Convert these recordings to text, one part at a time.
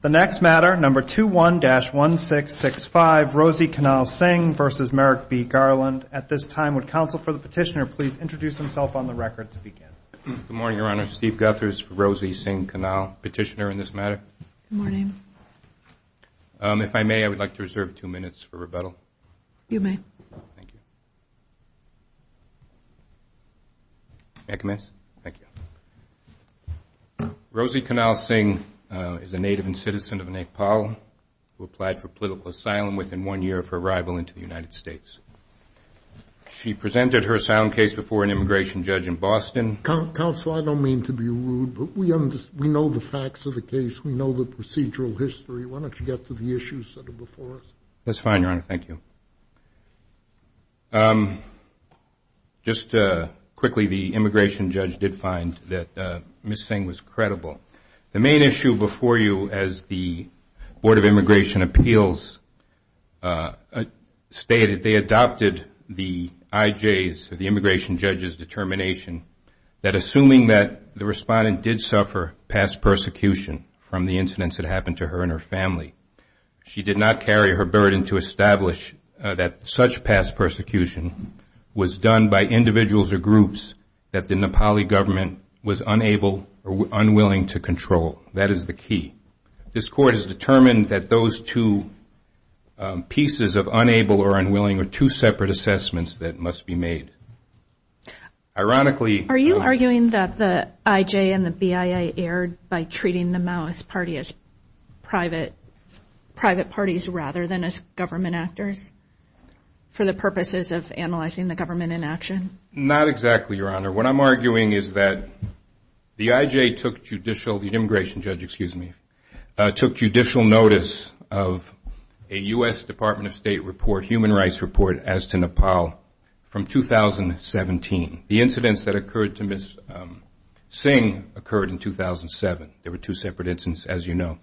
The next matter, number 21-1665, Rosie Kanal Singh v. Merrick B. Garland. At this time, would counsel for the petitioner please introduce himself on the record to begin? Good morning, Your Honor. Steve Guthers, Rosie Singh Kanal, petitioner in this matter. Good morning. If I may, I would like to reserve two minutes for rebuttal. You may. Thank you. May I commence? Thank you. Rosie Kanal Singh is a native and citizen of Nepal who applied for political asylum within one year of her arrival into the United States. She presented her asylum case before an immigration judge in Boston. Counsel, I don't mean to be rude, but we know the facts of the case, we know the procedural history. Why don't you get to the issues that are before us? That's fine, Your Honor. Thank you. Just quickly, the immigration judge did find that Ms. Singh was credible. The main issue before you as the Board of Immigration Appeals stated, they adopted the IJs, the immigration judge's determination, that assuming that the respondent did suffer past persecution from the incidents that happened to her and her family, she did not carry her burden to establish that such past persecution was done by individuals or groups that the Nepali government was unable or unwilling to control. That is the key. This Court has determined that those two pieces of unable or unwilling are two separate assessments that must be made. Ironically... Are you arguing that the IJ and the BIA erred by treating the Maoist Party as private parties rather than as government actors for the purposes of analyzing the government in action? Not exactly, Your Honor. What I'm arguing is that the IJ took judicial, the immigration judge, excuse me, took judicial notice of a U.S. Department of State report, human rights report, as to Nepal from 2017. The incidents that occurred to Ms. Singh occurred in 2007. There were two separate incidents, as you know.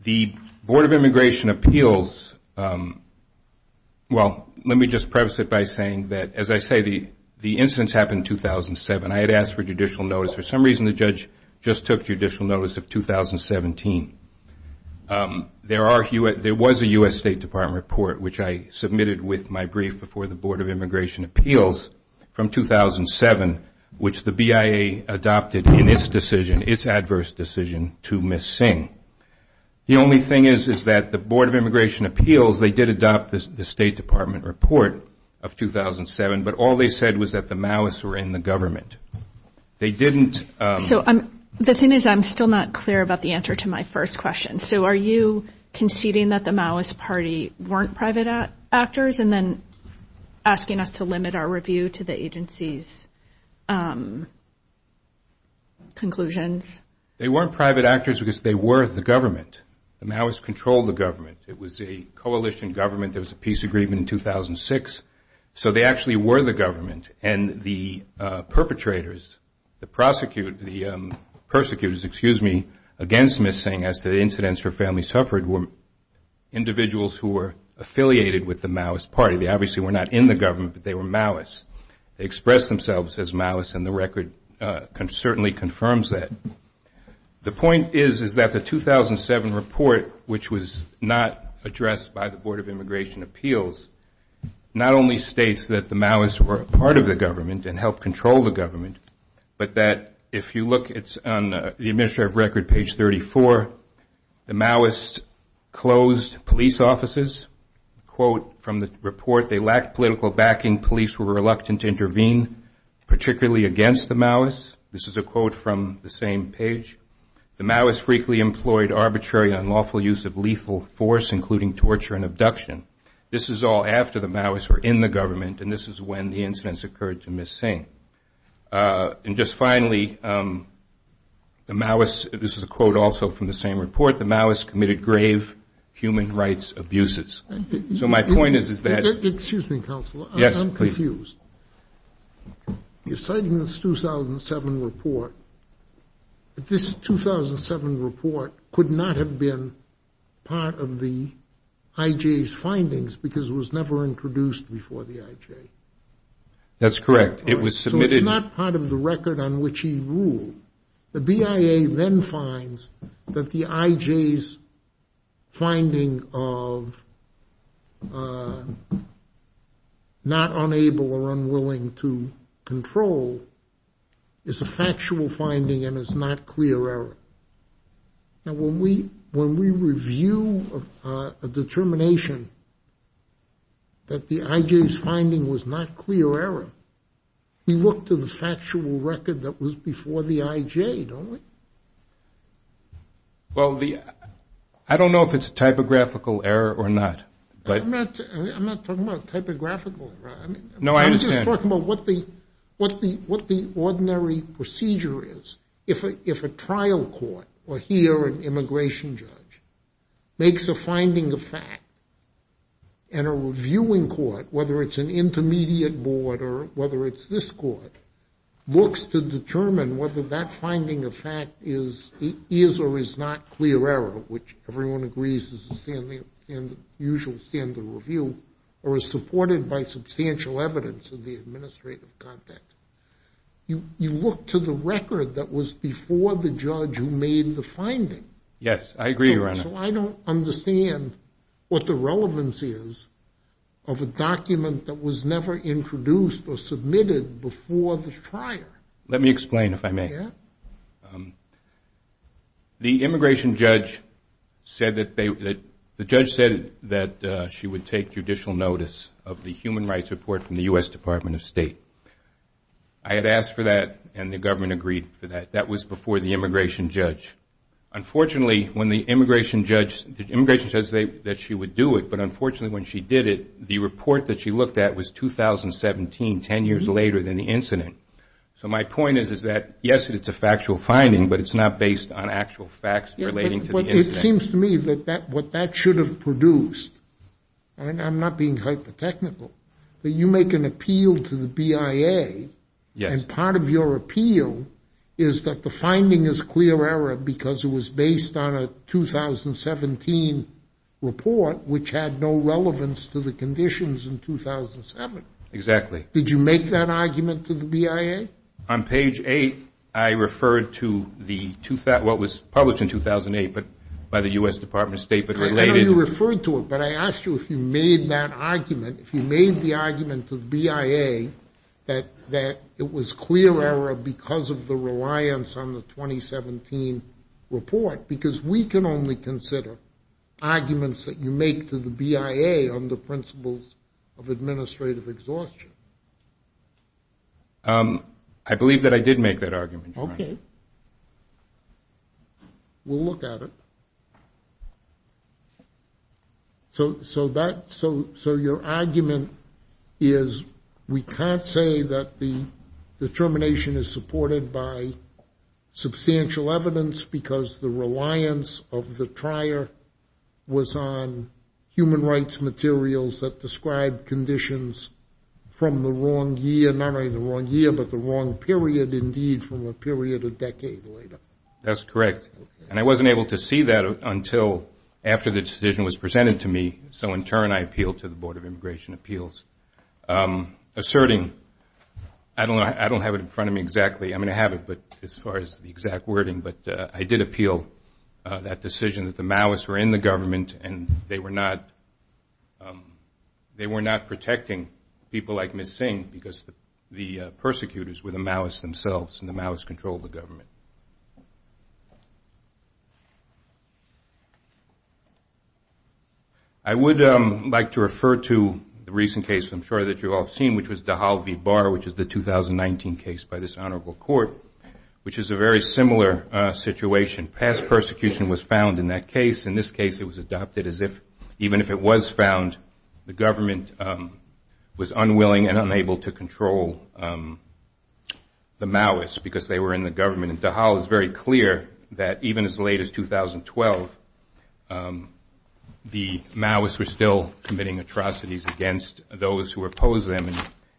The Board of Immigration Appeals, well, let me just preface it by saying that, as I say, the incidents happened in 2007. I had asked for judicial notice. For some reason, the judge just took judicial notice of 2017. There was a U.S. State Department report, which I submitted with my brief before the Board of The only thing is that the Board of Immigration Appeals, they did adopt the State Department report of 2007, but all they said was that the Maoists were in the government. They didn't... So the thing is I'm still not clear about the answer to my first question. So are you conceding that the Maoist Party weren't private actors and then asking us to limit our review to the agency's conclusions? They weren't private actors because they were the government. The Maoists controlled the government. It was a coalition government. There was a peace agreement in 2006. So they actually were the government, and the perpetrators, the prosecutors, excuse me, against Ms. Singh as to the incidents her family suffered were individuals who were affiliated with the Maoist Party. They obviously were not in the government, but they were Maoists. They expressed themselves as Maoists, and the record certainly confirms that. The point is is that the 2007 report, which was not addressed by the Board of Immigration Appeals, not only states that the Maoists were a part of the government and helped control the government, but that if you look, it's on the administrative record, page 34. The Maoists closed police offices. A quote from the report, they lacked political backing. Police were reluctant to intervene, particularly against the Maoists. This is a quote from the same page. The Maoists frequently employed arbitrary and unlawful use of lethal force, including torture and abduction. This is all after the Maoists were in the government, and this is when the incidents occurred to Ms. Singh. And just finally, the Maoists, this is a quote also from the same report, the Maoists committed grave human rights abuses. So my point is is that. Excuse me, Counselor. Yes, please. I'm confused. You're citing this 2007 report, but this 2007 report could not have been part of the IJ's findings because it was never introduced before the IJ. That's correct. It was submitted. So it's not part of the record on which he ruled. The BIA then finds that the IJ's finding of not unable or unwilling to control is a factual finding and is not clear error. Now, when we review a determination that the IJ's finding was not clear error, we look to the factual record that was before the IJ, don't we? Well, I don't know if it's a typographical error or not. I'm not talking about typographical error. No, I understand. I'm just talking about what the ordinary procedure is. If a trial court or here an immigration judge makes a finding of fact and a reviewing court, whether it's an intermediate board or whether it's this court, looks to determine whether that finding of fact is or is not clear error, which everyone agrees is the usual standard review, or is supported by substantial evidence in the administrative context, you look to the record that was before the judge who made the finding. Yes, I agree, Your Honor. So I don't understand what the relevance is of a document that was never introduced or submitted before the trial. Let me explain, if I may. Yeah. The immigration judge said that she would take judicial notice of the human rights report from the U.S. Department of State. I had asked for that, and the government agreed for that. That was before the immigration judge. Unfortunately, when the immigration judge said that she would do it, but unfortunately when she did it, the report that she looked at was 2017, 10 years later than the incident. So my point is that, yes, it's a factual finding, but it's not based on actual facts relating to the incident. It seems to me that what that should have produced, and I'm not being hypothetical, that you make an appeal to the BIA, and part of your appeal is that the finding is clear error because it was based on a 2017 report, which had no relevance to the conditions in 2007. Exactly. Did you make that argument to the BIA? On page 8, I referred to what was published in 2008 by the U.S. Department of State. I know you referred to it, but I asked you if you made that argument, if you made the argument to the BIA that it was clear error because of the reliance on the 2017 report, because we can only consider arguments that you make to the BIA on the principles of administrative exhaustion. I believe that I did make that argument. Okay. We'll look at it. So your argument is we can't say that the determination is supported by substantial evidence because the reliance of the trier was on human rights materials that describe conditions from the wrong year, not only the wrong year, but the wrong period, indeed, from a period a decade later. That's correct. And I wasn't able to see that until after the decision was presented to me, so in turn I appealed to the Board of Immigration Appeals, asserting, I don't have it in front of me exactly, I'm going to have it as far as the exact wording, but I did appeal that decision that the Maoists were in the government and they were not protecting people like Ms. Singh because the persecutors were the Maoists themselves and the Maoists controlled the government. I would like to refer to the recent case I'm sure that you've all seen, which was Dahal v. Bar, which is the 2019 case by this Honorable Court, which is a very similar situation. Past persecution was found in that case. In this case it was adopted as if even if it was found, the government was unwilling and unable to control the Maoists because they were in the government. And Dahal is very clear that even as late as 2012, the Maoists were still committing atrocities against those who opposed them.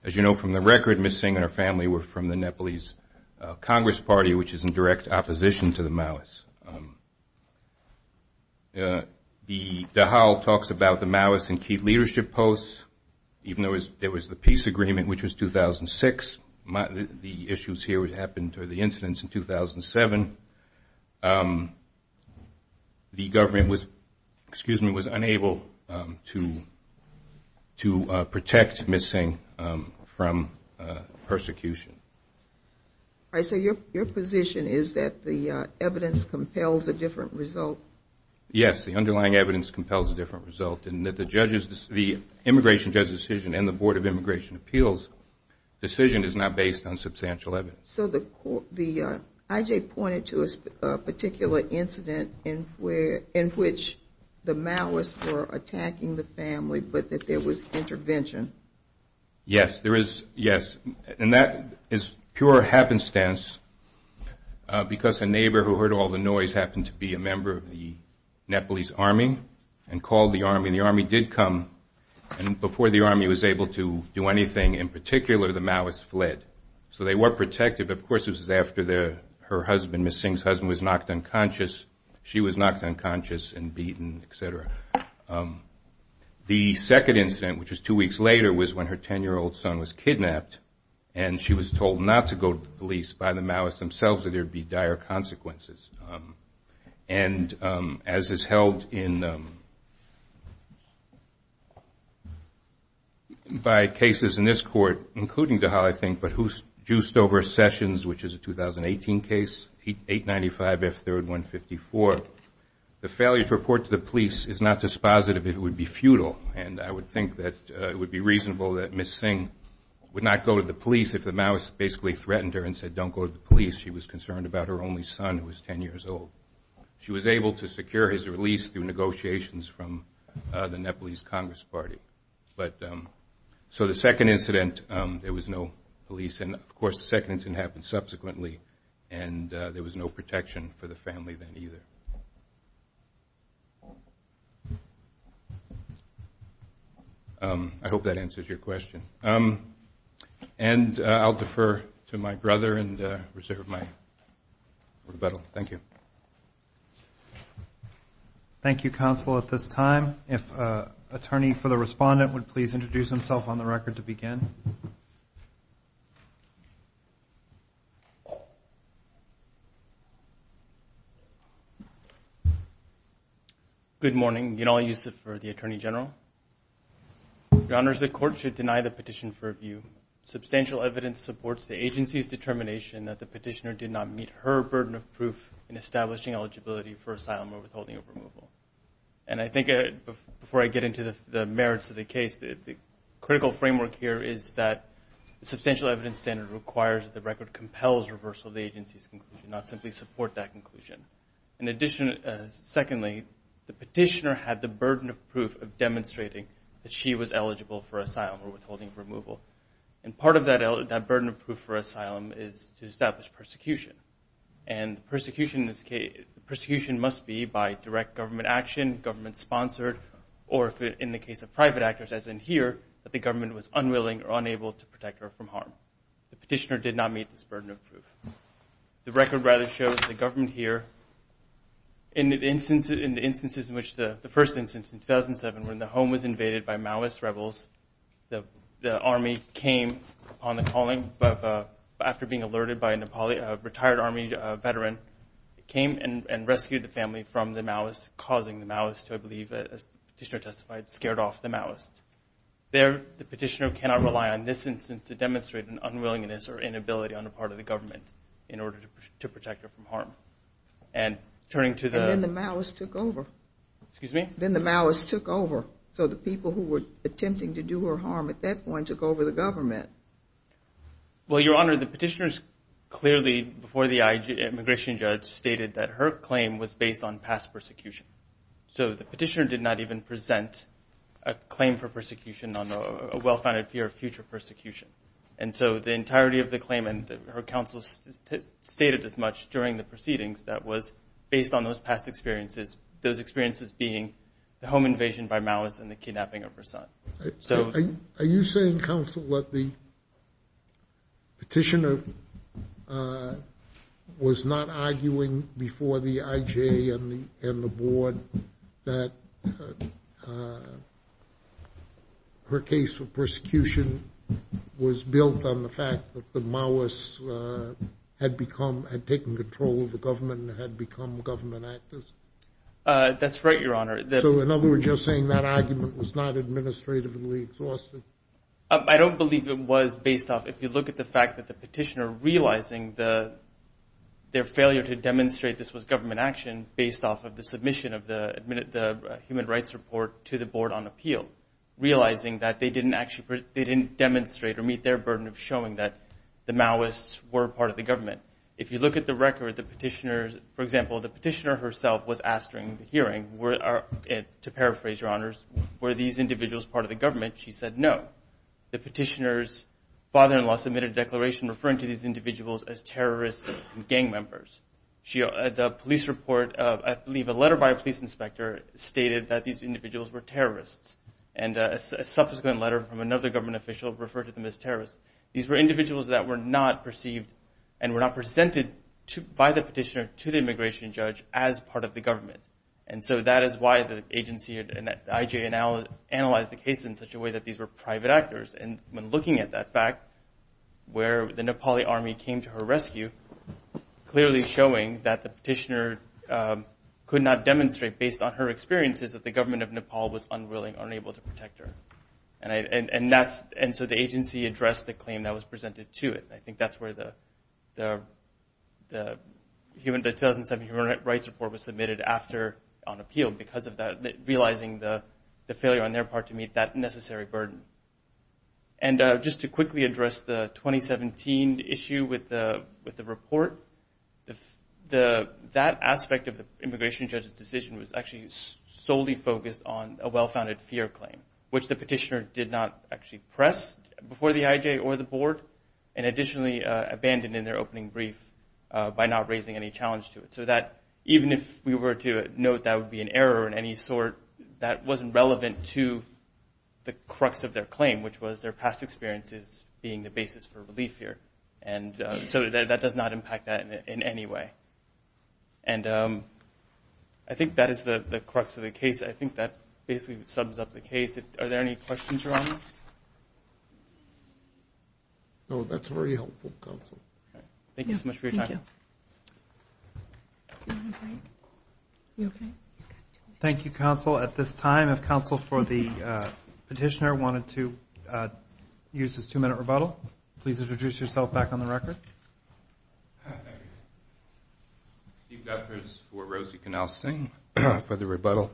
As you know from the record, Ms. Singh and her family were from the Nepalese Congress Party, which is in direct opposition to the Maoists. Dahal talks about the Maoist and key leadership posts, even though there was the peace agreement, which was 2006. The issues here would happen during the incidents in 2007. The government was unable to protect Ms. Singh from persecution. Your position is that the evidence compels a different result? Yes, the underlying evidence compels a different result. The immigration judge decision and the Board of Immigration Appeals decision is not based on substantial evidence. So the I.J. pointed to a particular incident in which the Maoists were attacking the family, but that there was intervention. Yes, there is, yes. And that is pure happenstance because a neighbor who heard all the noise happened to be a member of the Nepalese Army and called the Army, and the Army did come. And before the Army was able to do anything in particular, the Maoists fled. So they were protected, but of course this was after her husband, Ms. Singh's husband, was knocked unconscious. She was knocked unconscious and beaten, et cetera. The second incident, which was two weeks later, was when her 10-year-old son was kidnapped and she was told not to go to the police by the Maoists themselves or there would be dire consequences. And as is held in by cases in this court, including Dahal, I think, but who's juiced over Sessions, which is a 2018 case, 895F3154, the failure to report to the police is not dispositive, it would be futile. And I would think that it would be reasonable that Ms. Singh would not go to the police if the Maoists basically threatened her and said don't go to the police. She was concerned about her only son, who was 10 years old. She was able to secure his release through negotiations from the Nepalese Congress Party. So the second incident, there was no police. And, of course, the second incident happened subsequently, and there was no protection for the family then either. I hope that answers your question. And I'll defer to my brother and reserve my rebuttal. Thank you. Thank you, counsel, at this time. If Attorney for the Respondent would please introduce himself on the record to begin. Good morning. Genal Yusuf for the Attorney General. Your Honors, the court should deny the petition for review. Substantial evidence supports the agency's determination that the petitioner did not meet her burden of proof in establishing eligibility for asylum or withholding of removal. And I think before I get into the merits of the case, the critical framework here is that the substantial evidence standard requires that the record compels reversal of the agency's conclusion, not simply support that conclusion. Secondly, the petitioner had the burden of proof of demonstrating that she was eligible for asylum or withholding of removal. And part of that burden of proof for asylum is to establish persecution. And persecution must be by direct government action, government-sponsored, or in the case of private actors, as in here, that the government was unwilling or unable to protect her from harm. The petitioner did not meet this burden of proof. The record rather shows the government here in the instances in which the first instance in 2007 when the home was invaded by Maoist rebels, the army came on the calling. After being alerted by a retired army veteran, came and rescued the family from the Maoists, causing the Maoists to, I believe, as the petitioner testified, scared off the Maoists. There, the petitioner cannot rely on this instance to demonstrate an unwillingness or inability on the part of the government in order to protect her from harm. And turning to the... And then the Maoists took over. Excuse me? Then the Maoists took over. So the people who were attempting to do her harm at that point took over the government. Well, Your Honor, the petitioner's clearly, before the immigration judge, stated that her claim was based on past persecution. So the petitioner did not even present a claim for persecution on a well-founded fear of future persecution. And so the entirety of the claim, and her counsel stated as much during the proceedings, that was based on those past experiences, those experiences being the home invasion by Maoists and the kidnapping of her son. So... Are you saying, counsel, that the petitioner was not arguing before the IJ and the board that her case for persecution was built on the fact that the Maoists had become, had become government actors? That's right, Your Honor. So in other words, you're saying that argument was not administratively exhausted? I don't believe it was based off. If you look at the fact that the petitioner realizing their failure to demonstrate this was government action based off of the submission of the Human Rights Report to the board on appeal, realizing that they didn't demonstrate or meet their burden of showing that the Maoists were part of the government. If you look at the record, the petitioner, for example, the petitioner herself was asked during the hearing, to paraphrase, Your Honors, were these individuals part of the government? She said no. The petitioner's father-in-law submitted a declaration referring to these individuals as terrorists and gang members. The police report, I believe a letter by a police inspector, stated that these individuals were terrorists. And a subsequent letter from another government official referred to them as terrorists. These were individuals that were not perceived and were not presented by the petitioner to the immigration judge as part of the government. And so that is why the agency and the IJ analyzed the case in such a way that these were private actors. And when looking at that fact, where the Nepali Army came to her rescue, clearly showing that the petitioner could not demonstrate based on her experiences that the government of Nepal was unwilling, unable to protect her. And so the agency addressed the claim that was presented to it. I think that's where the 2007 Human Rights Report was submitted on appeal because of realizing the failure on their part to meet that necessary burden. And just to quickly address the 2017 issue with the report, that aspect of the immigration judge's decision was actually solely focused on a well-founded fear claim, which the petitioner did not actually press before the IJ or the board, and additionally abandoned in their opening brief by not raising any challenge to it. So that even if we were to note that would be an error of any sort, that wasn't relevant to the crux of their claim, which was their past experiences being the basis for relief here. And so that does not impact that in any way. And I think that is the crux of the case. I think that basically sums up the case. Are there any questions around that? No, that's very helpful, counsel. Thank you so much for your time. Thank you, counsel. At this time, if counsel for the petitioner wanted to use his two-minute rebuttal, please introduce yourself back on the record. Thank you. Steve Duffers for Rosie Canalsing for the rebuttal.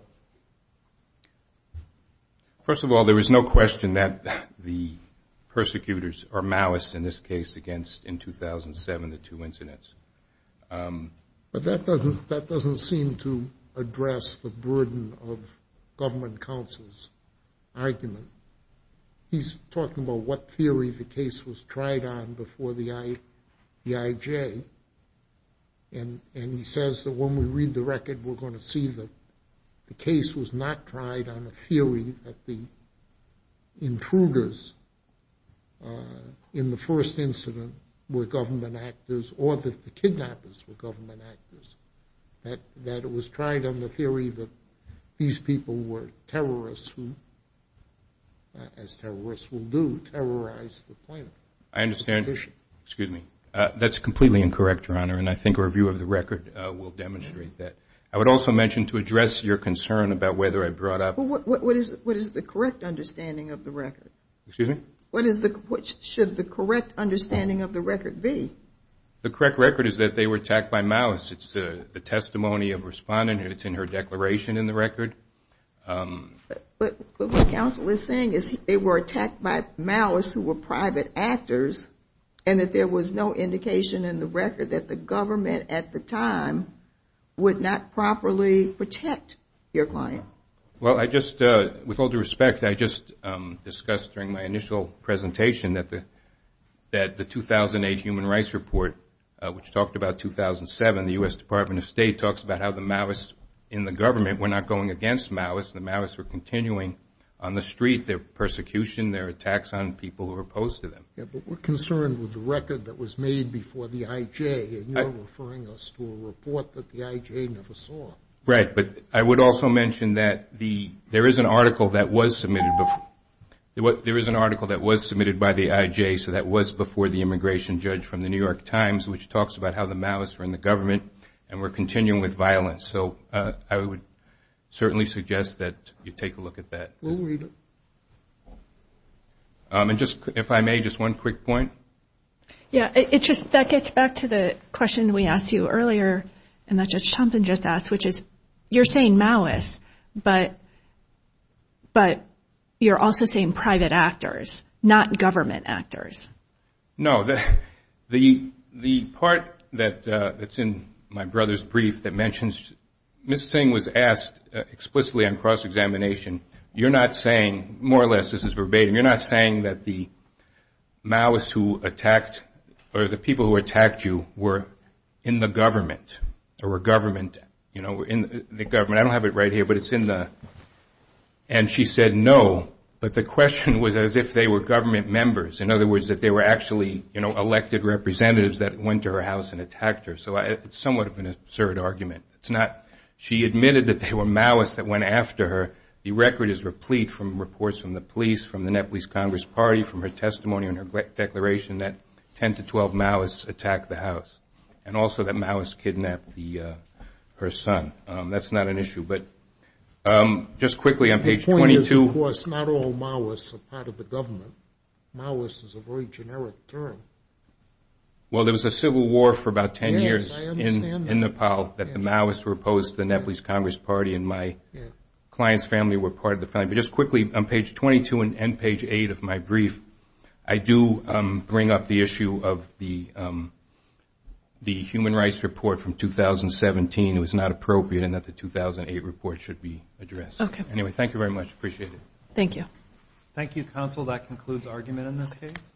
First of all, there is no question that the persecutors are malice in this case against, in 2007, the two incidents. But that doesn't seem to address the burden of government counsel's argument. He's talking about what theory the case was tried on before the IJ. And he says that when we read the record, we're going to see that the case was not tried on a theory that the intruders in the first incident were government actors or that the kidnappers were government actors, that it was tried on the theory that these people were terrorists, as terrorists will do, terrorize the planet. I understand. Excuse me. That's completely incorrect, Your Honor, and I think a review of the record will demonstrate that. I would also mention to address your concern about whether I brought up – What is the correct understanding of the record? Excuse me? What should the correct understanding of the record be? The correct record is that they were attacked by malice. It's the testimony of a respondent, and it's in her declaration in the record. But what counsel is saying is they were attacked by malice who were private actors and that there was no indication in the record that the government at the time would not properly protect your client. Well, I just – with all due respect, I just discussed during my initial presentation that the 2008 Human Rights Report, which talked about 2007, the U.S. Department of State, talks about how the malice in the government, we're not going against malice, the malice were continuing on the street, their persecution, their attacks on people who were opposed to them. Yeah, but we're concerned with the record that was made before the IJ, and you're referring us to a report that the IJ never saw. Right, but I would also mention that there is an article that was submitted before – there is an article that was submitted by the IJ, so that was before the immigration judge from the New York Times, which talks about how the malice were in the government and were continuing with violence. So I would certainly suggest that you take a look at that. We'll read it. And just, if I may, just one quick point. Yeah, it just – that gets back to the question we asked you earlier, and that Judge Thompson just asked, which is, you're saying malice, but you're also saying private actors, not government actors. No, the part that's in my brother's brief that mentions – Ms. Singh was asked explicitly on cross-examination, you're not saying – more or less, this is verbatim – you're not saying that the malice who attacked or the people who attacked you were in the government or were government, you know, in the government. I don't have it right here, but it's in the – and she said no, but the question was as if they were government members. In other words, that they were actually, you know, elected representatives that went to her house and attacked her. So it's somewhat of an absurd argument. It's not – she admitted that there were malice that went after her. The record is replete from reports from the police, from the Nepalese Congress Party, from her testimony and her declaration that 10 to 12 malice attacked the house, and also that malice kidnapped her son. That's not an issue, but just quickly on page 22 – The point is, of course, not all malice are part of the government. Malice is a very generic term. Well, there was a civil war for about 10 years in Nepal that the malice were opposed to. The Nepalese Congress Party and my client's family were part of the family. But just quickly on page 22 and page 8 of my brief, I do bring up the issue of the human rights report from 2017. It was not appropriate in that the 2008 report should be addressed. Okay. Anyway, thank you very much. Appreciate it. Thank you. Thank you, counsel. That concludes argument in this case.